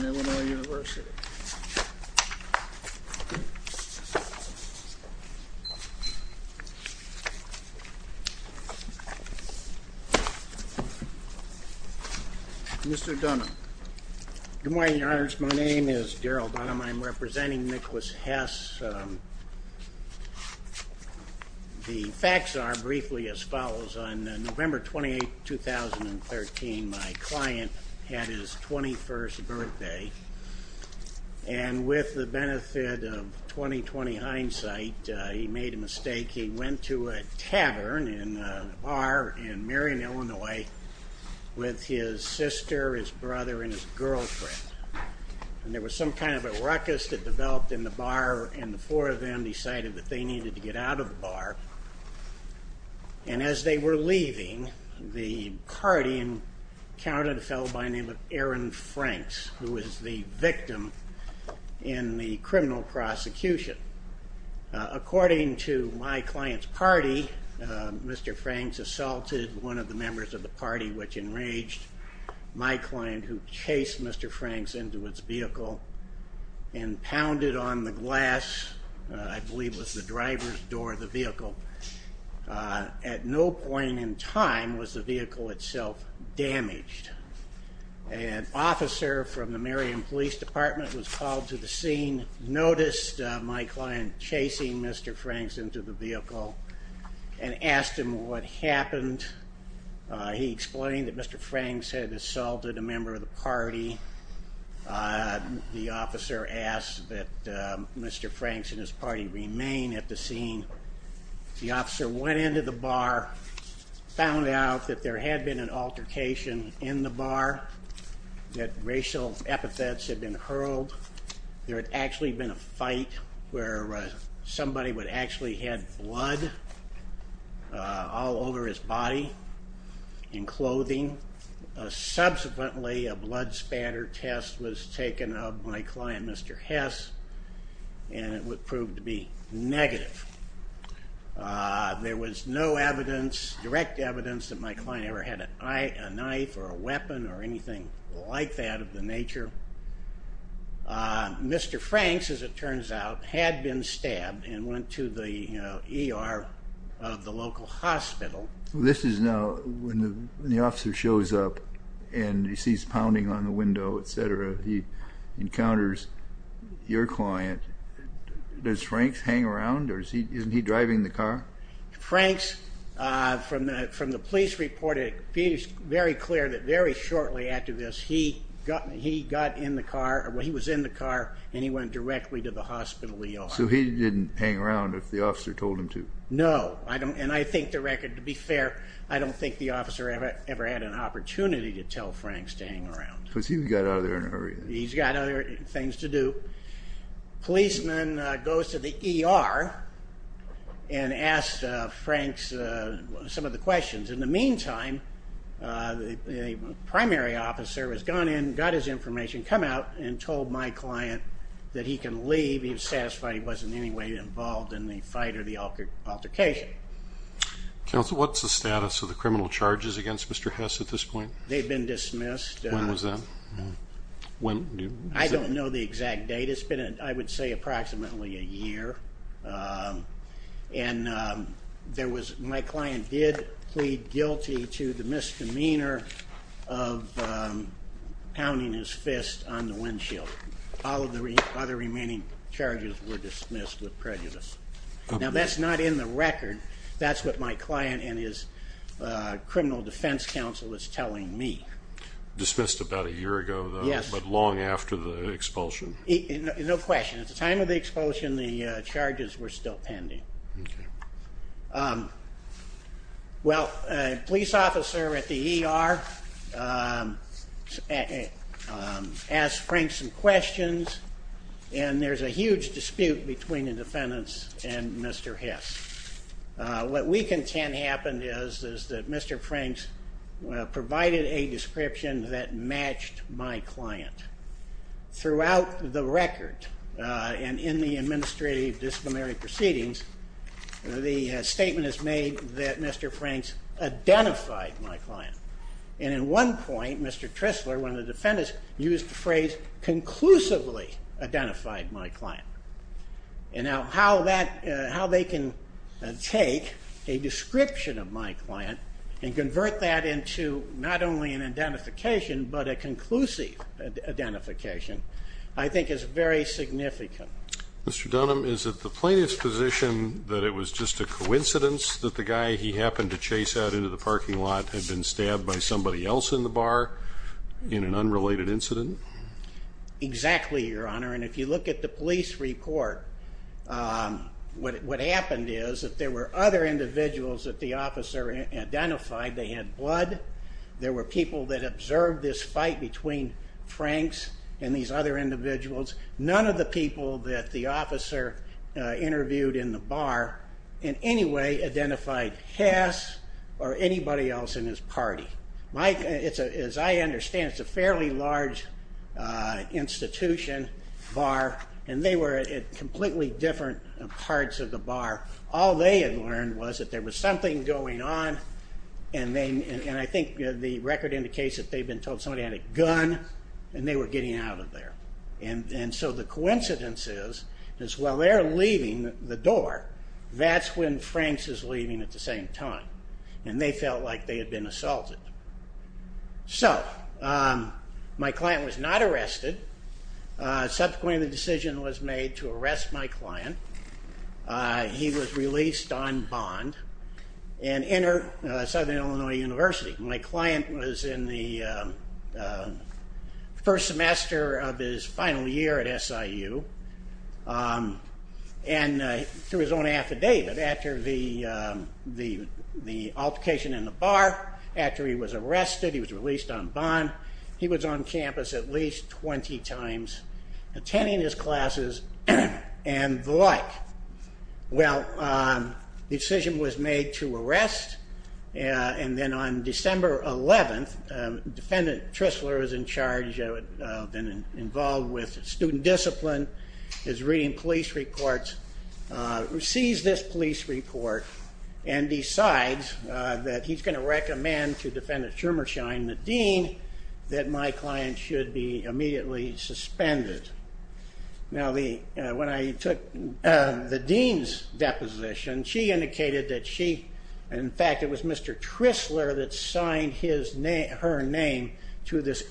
Illinois University. Mr. Dunham. Good morning, your honors. My name is Daryl Dunham. I'm representing Nicholas Hess. The facts are briefly as follows. On November 28, 2013, my client had his 21st birthday, and with the benefit of 20-20 hindsight, he made a mistake. He went to a tavern in a bar in Marion, Illinois, with his sister, his brother, and his girlfriend. And there was some kind of a ruckus that developed in the bar, and the four of them decided that they counted a fellow by the name of Aaron Franks, who is the victim in the criminal prosecution. According to my client's party, Mr. Franks assaulted one of the members of the party, which enraged my client, who chased Mr. Franks into its vehicle and pounded on the glass, I believe it was the driver's door of the vehicle. At no point in time was the vehicle itself damaged. An officer from the Marion Police Department was called to the scene, noticed my client chasing Mr. Franks into the vehicle, and asked him what happened. He explained that Mr. Franks had assaulted a member of the The officer went into the bar, found out that there had been an altercation in the bar, that racial epithets had been hurled. There had actually been a fight where somebody would actually had blood all over his body and clothing. Subsequently, a blood spatter test was taken of my client, Mr. Hess, and it would prove to be negative. There was no evidence, direct evidence, that my client ever had a knife or a weapon or anything like that of the nature. Mr. Franks, as it turns out, had been stabbed and went to the ER of the local hospital. This is now when the officer shows up and he sees pounding on the window, etc. He encounters your client. Does Franks hang around or isn't he driving the car? Franks, from the police report, it is very clear that very shortly after this, he got in the car, he was in the car, and he went directly to the hospital ER. So he didn't hang around if the officer told him to? No, and I think the record, to be fair, I don't think the officer ever had an issue with Franks hanging around. He's got other things to do. Policeman goes to the ER and asks Franks some of the questions. In the meantime, a primary officer has gone in, got his information, come out and told my client that he can leave. He's satisfied he wasn't in any way involved in the fight or the altercation. Counsel, what's the status of the criminal charges against Mr. Hess at this point? They've been dismissed. When was that? I don't know the exact date. It's been, I would say, approximately a year. And there was, my client did plead guilty to the misdemeanor of pounding his fist on the windshield. All of the other remaining charges were dismissed with prejudice. Now that's not in the record. That's what my client and his criminal defense counsel is telling me. Dismissed about a year ago, but long after the expulsion? No question. At the time of the expulsion, the charges were still pending. Well, a police officer at the ER asked Franks some questions and there's a huge dispute between the defendants and Mr. Hess. What we can tend happen is, is that Mr. Franks provided a description that matched my client. Throughout the record and in the administrative disciplinary proceedings, the statement is made that Mr. Franks identified my client. And in one point, Mr. Tristler, one of the defendants, used the phrase conclusively identified my client. And now how that, how they can take a description of my client and convert that into not only an identification, but a conclusive identification, I think is very significant. Mr. Dunham, is it the plaintiff's position that it was just a coincidence that the guy he happened to chase out into the parking lot had been stabbed by somebody else in the bar in an unrelated incident? Exactly, Your Honor. And if you look at the police report, what happened is that there were other individuals that the officer identified. They had blood. There were people that observed this fight between Franks and these other individuals. None of the people that the officer interviewed in the bar in any way identified Hess or anybody else in his large institution bar. And they were in completely different parts of the bar. All they had learned was that there was something going on. And I think the record indicates that they've been told somebody had a gun and they were getting out of there. And so the coincidence is, is while they're leaving the door, that's when Franks is leaving at the same time. And they felt like they had been assaulted. So my client was not arrested. Subsequently, the decision was made to arrest my client. He was released on bond and entered Southern Illinois University. My client was in the first semester of his final year at SIU. And through his own affidavit, after the altercation in the bar, after he was arrested, he was released on bond. He was on campus at least 20 times, attending his classes and the like. Well, the decision was made to arrest. And then on December 11th, Defendant Tristler was in charge, involved with student discipline, is reading police reports, sees this police report and decides that he's going to recommend to Defendant Schumerschein, the dean, that my client should be immediately suspended. Now, when I took the dean's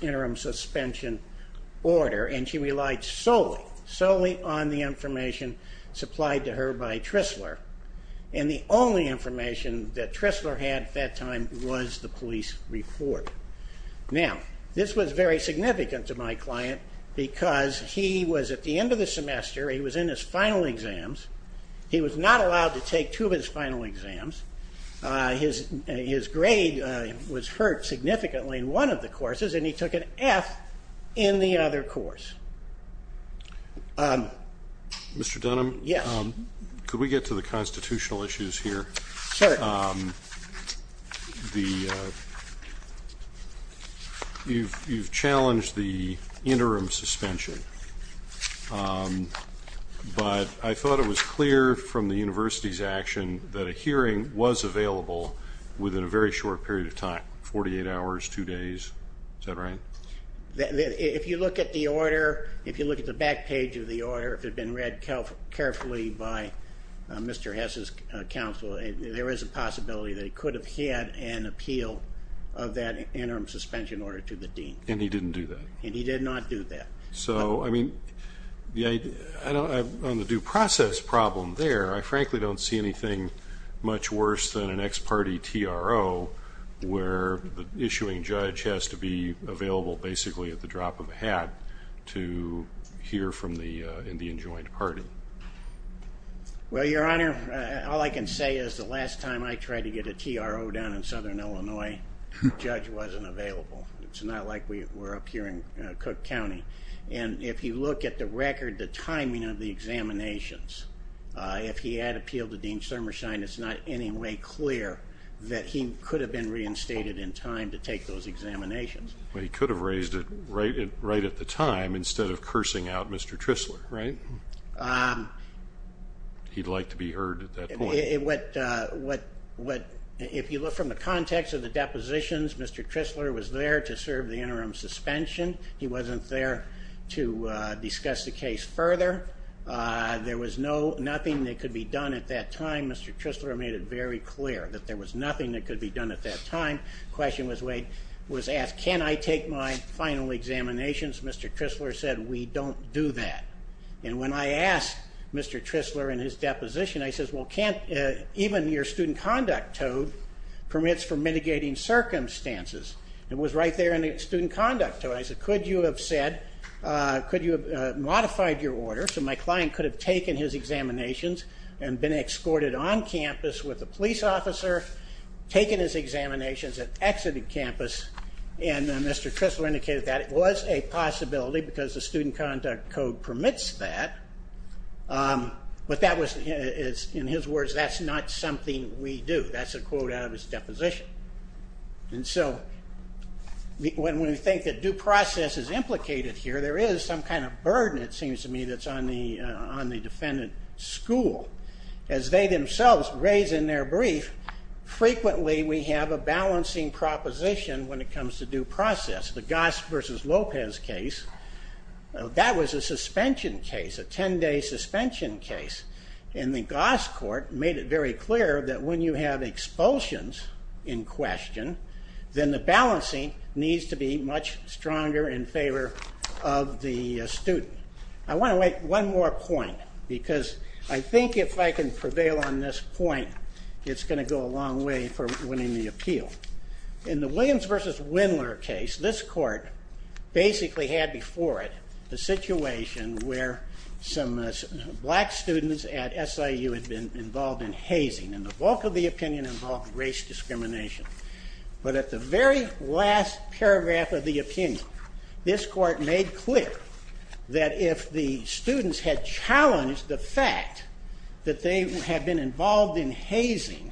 interim suspension order, and she relied solely, solely on the information supplied to her by Tristler. And the only information that Tristler had at that time was the police report. Now, this was very significant to my client, because he was at the end of the semester, he was in his second F in the other course. Mr. Dunham, could we get to the constitutional issues here? You've challenged the interim suspension, but I If you look at the order, if you look at the back page of the order, if it had been read carefully by Mr. Hess's counsel, there is a possibility that he could have had an appeal of that interim suspension order to the dean. And he didn't do that? And he did not do that. So, I mean, on the due process problem there, I frankly don't see anything much worse than an ex-party TRO, where the issuing judge has to be available, basically, at the drop of a hat to hear from the Indian joint party. Well, Your Honor, all I can say is the last time I tried to get a TRO done in Southern Illinois, the judge wasn't available. It's not like we're up here Cook County. And if you look at the record, the timing of the examinations, if he had appealed to Dean Summershine, it's not any way clear that he could have been reinstated in time to take those examinations. Well, he could have raised it right at the time, instead of cursing out Mr. Trisler, right? He'd like to be heard at that point. If you look from the context of the depositions, Mr. Trisler was there to serve the interim suspension. He wasn't there to discuss the case further. There was nothing that could be done at that time. Mr. Trisler made it very clear that there was nothing that could be done at that time. The question was asked, can I take my final examinations? Mr. Trisler said, we don't do that. And when I asked Mr. Trisler in his deposition, I said, well, even your student conduct toad permits for mitigating circumstances. It was right there in the student conduct toad. I said, could you have said, could you have modified your order so my client could have taken his examinations and been escorted on campus with a police officer, taken his examinations and exited campus? And Mr. Trisler indicated that it was a possibility because the student conduct toad permits that. But that was, in his words, that's not something we do. That's a quote out of his deposition. And so when we think that due process is implicated here, there is some kind of burden, it seems to me, that's on the defendant's school. As they themselves raise in their brief, frequently we have a balancing proposition when it comes to due process. The Goss versus Lopez case, that was a suspension case, a 10-day suspension case. And the Goss court made it very clear that when you have expulsions in question, then the balancing needs to be much stronger in favor of the student. I want to make one more point because I think if I can prevail on this point, it's going to go a long way for winning the appeal. In the Williams versus Windler case, this court basically had before it the situation where some black students at SIU had been involved in hazing. And the bulk of the opinion involved race discrimination. But at the very last paragraph of the opinion, this court made clear that if the students had challenged the fact that they had been involved in hazing,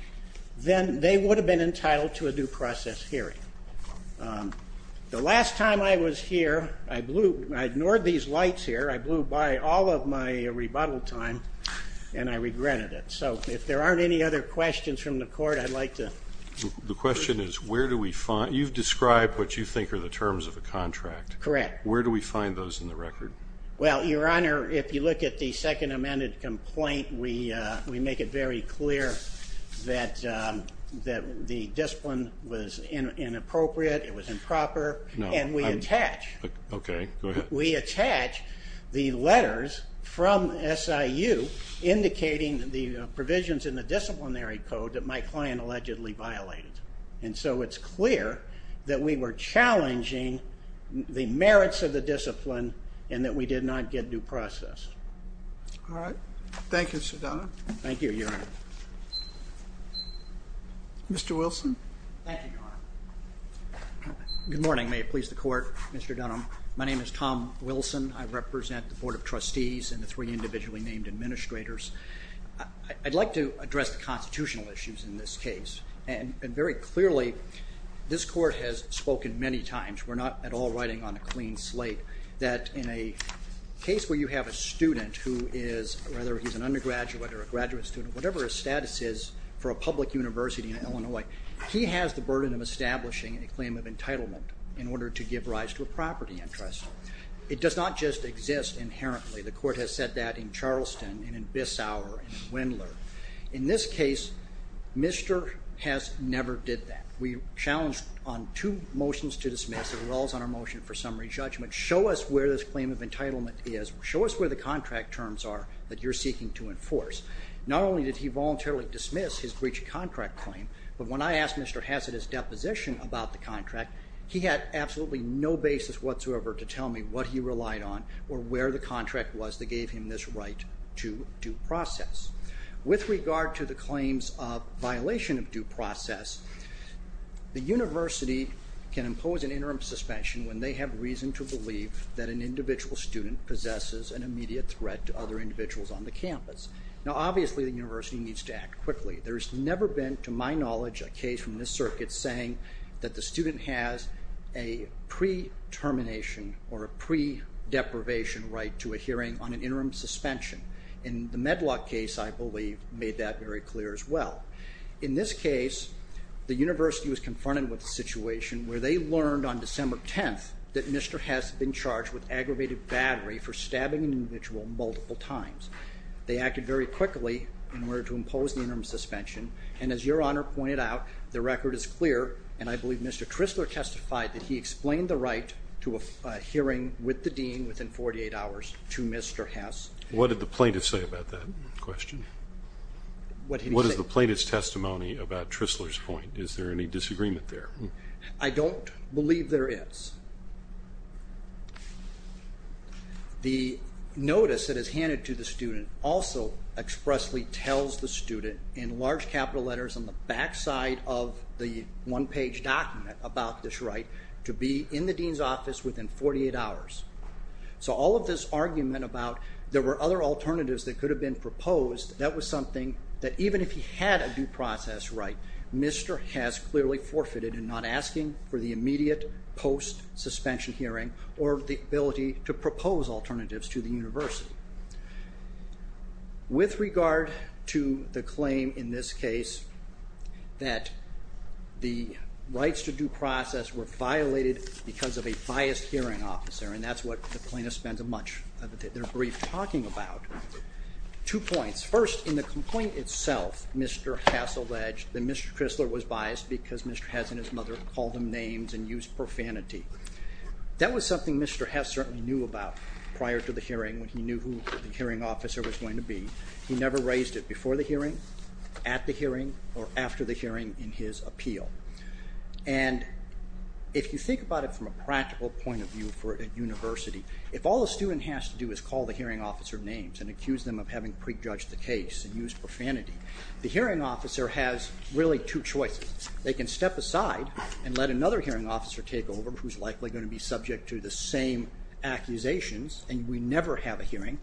then they would have been entitled to a due process hearing. The last time I was here, I ignored these lights here, I blew by all of my rebuttal time, and I regretted it. So if there aren't any other questions from the court, I'd like to... The question is, you've described what you think are the terms of the contract. Correct. Where do we find those in the record? Well, Your Honor, if you look at the second amended complaint, we make it very clear that the discipline was inappropriate, it was improper, and we attach. Okay, go ahead. And so it's clear that we were challenging the merits of the discipline and that we did not get due process. All right. Thank you, Mr. Dunham. Thank you, Your Honor. Mr. Wilson. Thank you, Your Honor. Good morning. May it please the court, Mr. Dunham. My name is Tom Wilson. I represent the Board of Trustees and the three individually named administrators. I'd like to address the constitutional issues in this case. And very clearly, this court has spoken many times, we're not at all riding on a clean slate, that in a case where you have a student who is, whether he's an undergraduate or a graduate student, whatever his status is for a public university in Illinois, he has the burden of establishing a claim of entitlement in order to give rise to a property interest. It does not just exist inherently. The court has said that in Charleston and in Bissauer and in Windler. In this case, Mr. Hess never did that. We challenged on two motions to dismiss, it rolls on our motion for summary judgment, show us where this claim of entitlement is, show us where the contract terms are that you're seeking to enforce. Not only did he voluntarily dismiss his breach of contract claim, but when I asked Mr. Hess at his deposition about the contract, he had absolutely no basis whatsoever to tell me what he relied on or where the contract was that gave him this right to due process. With regard to the claims of violation of due process, the university can impose an interim suspension when they have reason to believe that an individual student possesses an immediate threat to other individuals on the campus. Now obviously the university needs to act quickly. There's never been, to my knowledge, a case from this circuit saying that the student has a pre-termination or a pre-deprivation right to a hearing on an interim suspension. In the Medlock case, I believe, made that very clear as well. In this case, the university was confronted with a situation where they learned on December 10th that Mr. Hess had been charged with aggravated battery for stabbing an individual multiple times. They acted very quickly in order to impose the interim suspension, and as Your Honor pointed out, the record is clear, and I believe Mr. Tristler testified that he explained the right to a hearing with the dean within 48 hours to Mr. Hess. What did the plaintiff say about that question? What did he say? What is the plaintiff's testimony about Tristler's point? Is there any disagreement there? I don't believe there is. The notice that is handed to the student also expressly tells the student in large capital letters on the back side of the one-page document about this right to be in the dean's office within 48 hours. So all of this argument about there were other alternatives that could have been proposed, that was something that even if he had a due process right, Mr. Hess clearly forfeited in not asking for the immediate post-suspension hearing or the ability to propose alternatives to the university. With regard to the claim in this case that the rights to due process were violated because of a biased hearing officer, and that's what the plaintiff spends much of their brief talking about, two points. First, in the complaint itself, Mr. Hess alleged that Mr. Tristler was biased because Mr. Hess and his mother called him names and used profanity. That was something Mr. Hess certainly knew about prior to the hearing when he knew who the hearing officer was going to be. He never raised it before the hearing, at the hearing, or after the hearing in his appeal. And if you think about it from a practical point of view for a university, if all a student has to do is call the hearing officer names and accuse them of having prejudged the case and used profanity, the hearing officer has really two choices. They can step aside and let another hearing officer take over, who's likely going to be subject to the same accusations, and we never have a hearing.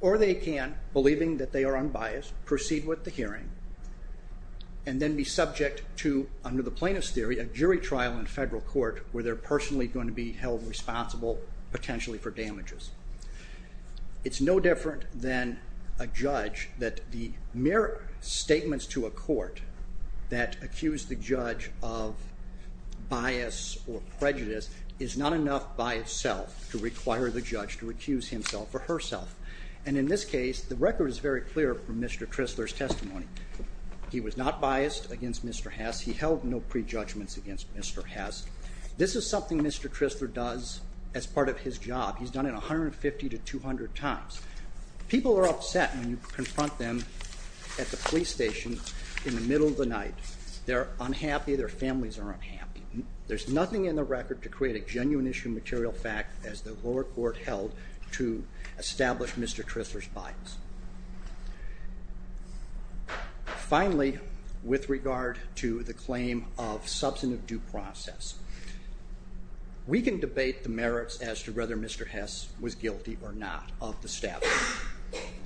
Or they can, believing that they are unbiased, proceed with the hearing and then be subject to, under the plaintiff's theory, a jury trial in federal court where they're personally going to be held responsible, potentially for damages. It's no different than a judge that the mere statements to a court that accuse the judge of bias or prejudice is not enough by itself to require the judge to recuse himself or herself. And in this case, the record is very clear from Mr. Tristler's testimony. He was not biased against Mr. Hess. He held no prejudgments against Mr. Hess. This is something Mr. Tristler does as part of his job. He's done it 150 to 200 times. People are upset when you confront them at the police station in the middle of the night. They're unhappy. Their families are unhappy. There's nothing in the record to create a genuine issue of material fact as the lower court held to establish Mr. Tristler's bias. Finally, with regard to the claim of substantive due process, we can debate the merits as to whether Mr. Hess was guilty or not of the stabbing.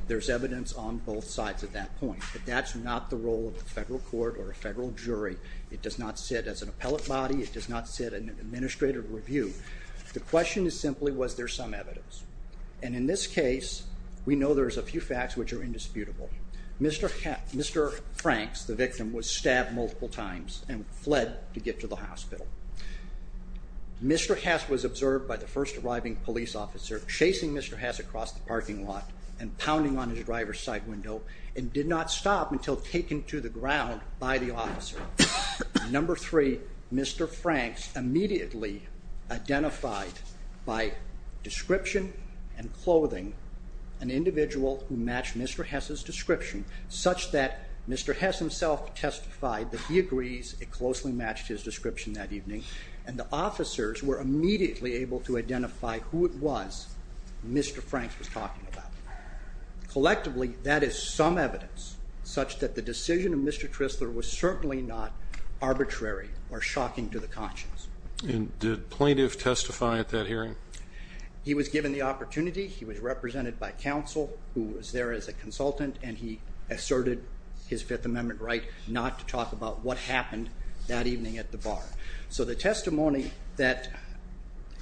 There's evidence on both sides at that point. But that's not the role of the federal court or a federal jury. It does not sit as an appellate body. It does not sit in an administrative review. The question is simply, was there some evidence? And in this case, we know there's a few facts which are indisputable. Mr. Franks, the victim, was stabbed multiple times and fled to get to the hospital. Mr. Hess was observed by the first arriving police officer chasing Mr. Hess across the parking lot and pounding on his driver's side window and did not stop until taken to the ground by the officer. Number three, Mr. Franks immediately identified by description and clothing an individual who matched Mr. Hess's description such that Mr. Hess himself testified that he agrees it closely matched his description that evening and the officers were immediately able to identify who it was Mr. Franks was talking about. Collectively, that is some evidence such that the decision of Mr. Tristler was certainly not arbitrary or shocking to the conscience. And did plaintiff testify at that hearing? He was given the opportunity. He was represented by counsel who was there as a consultant, and he asserted his Fifth Amendment right not to talk about what happened that evening at the bar. So the testimony that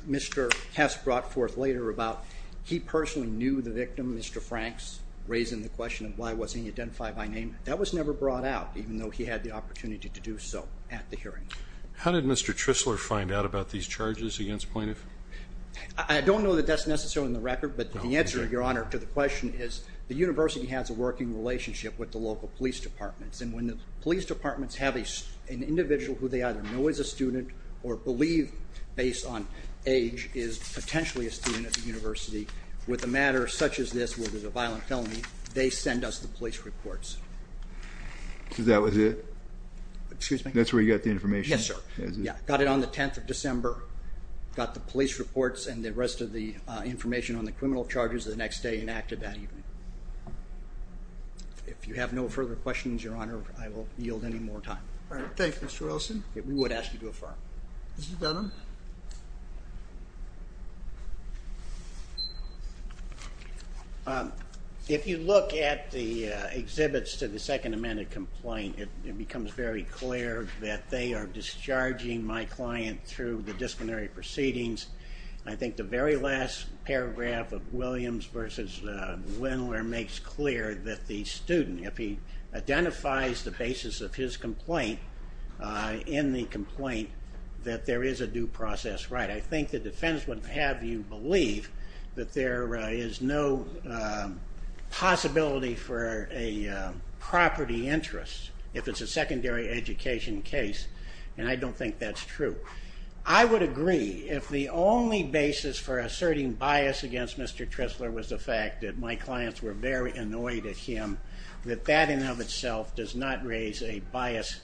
Mr. Hess brought forth later about he personally knew the victim, Mr. Franks, raising the question of why wasn't he identified by name, that was never brought out, even though he had the opportunity to do so at the hearing. How did Mr. Tristler find out about these charges against plaintiff? I don't know that that's necessarily in the record, but the answer, Your Honor, to the question is the university has a working relationship with the local police departments, and when the police departments have an individual who they either know is a student or believe, based on age, is potentially a student at the university with a matter such as this where there's a violent felony, they send us the police reports. So that was it? Excuse me? That's where you got the information? Yes, sir. Got it on the 10th of December. Got the police reports and the rest of the information on the criminal charges the next day and acted that evening. If you have no further questions, Your Honor, I will yield any more time. All right. Thank you, Mr. Olson. We would ask you to affirm. Mr. Dunham? If you look at the exhibits to the Second Amendment complaint, it becomes very clear that they are discharging my client through the disciplinary proceedings. I think the very last paragraph of Williams v. Wendler makes clear that the student, if he identifies the basis of his complaint in the complaint, that there is a due process right. I think the defense would have you believe that there is no possibility for a property interest if it's a secondary education case, and I don't think that's true. I would agree if the only basis for asserting bias against Mr. Trisler was the fact that my clients were very annoyed at him, that that in and of itself does not raise a bias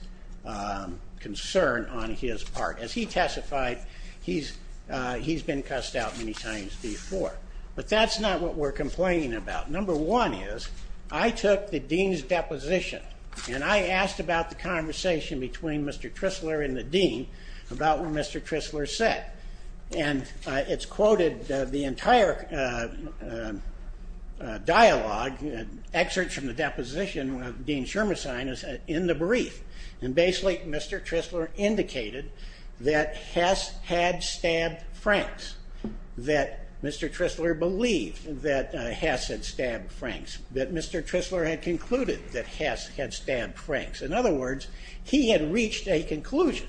concern on his part. As he testified, he's been cussed out many times before, but that's not what we're complaining about. Number one is I took the dean's deposition, and I asked about the conversation between Mr. Trisler and the dean about what Mr. Trisler said, and it's quoted, the entire dialogue, excerpts from the deposition of Dean Schirmesheim is in the brief, and basically Mr. Trisler indicated that Hess had stabbed Franks, that Mr. Trisler believed that Hess had stabbed Franks, that Mr. Trisler had concluded that Hess had stabbed Franks. In other words, he had reached a conclusion.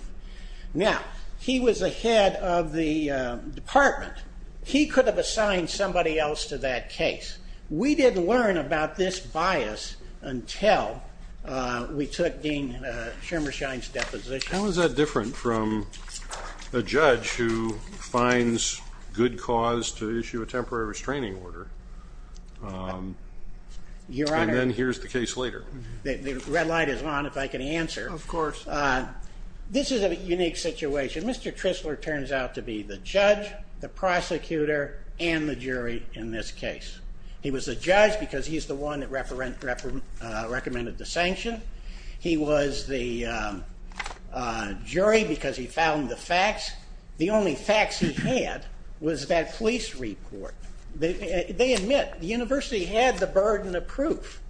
Now, he was a head of the department. He could have assigned somebody else to that case. We didn't learn about this bias until we took Dean Schirmesheim's deposition. How is that different from a judge who finds good cause to issue a temporary restraining order? And then here's the case later. The red light is on, if I can answer. Of course. This is a unique situation. Mr. Trisler turns out to be the judge, the prosecutor, and the jury in this case. He was the judge because he's the one that recommended the sanction. He was the jury because he found the facts. The only facts he had was that police report. They admit the university had the burden of proof,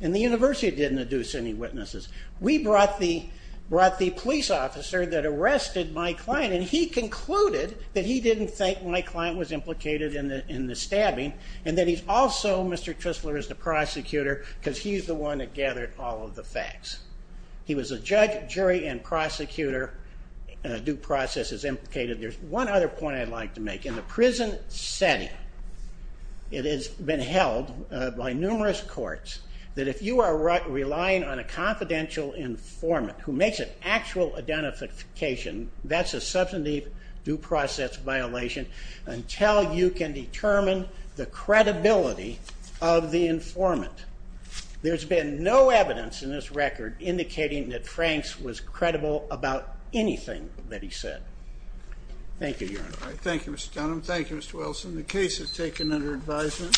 and the university didn't induce any witnesses. We brought the police officer that arrested my client, and he concluded that he didn't think my client was implicated in the stabbing, and that he's also, Mr. Trisler is the prosecutor, because he's the one that gathered all of the facts. He was a judge, jury, and prosecutor. Due process is implicated. There's one other point I'd like to make. In the prison setting, it has been held by numerous courts that if you are relying on a confidential informant who makes an actual identification, that's a substantive due process violation until you can determine the credibility of the informant. There's been no evidence in this record indicating that Franks was credible about anything that he said. Thank you, Your Honor. Thank you, Mr. Dunham. Thank you, Mr. Wilson. The case is taken under advisement.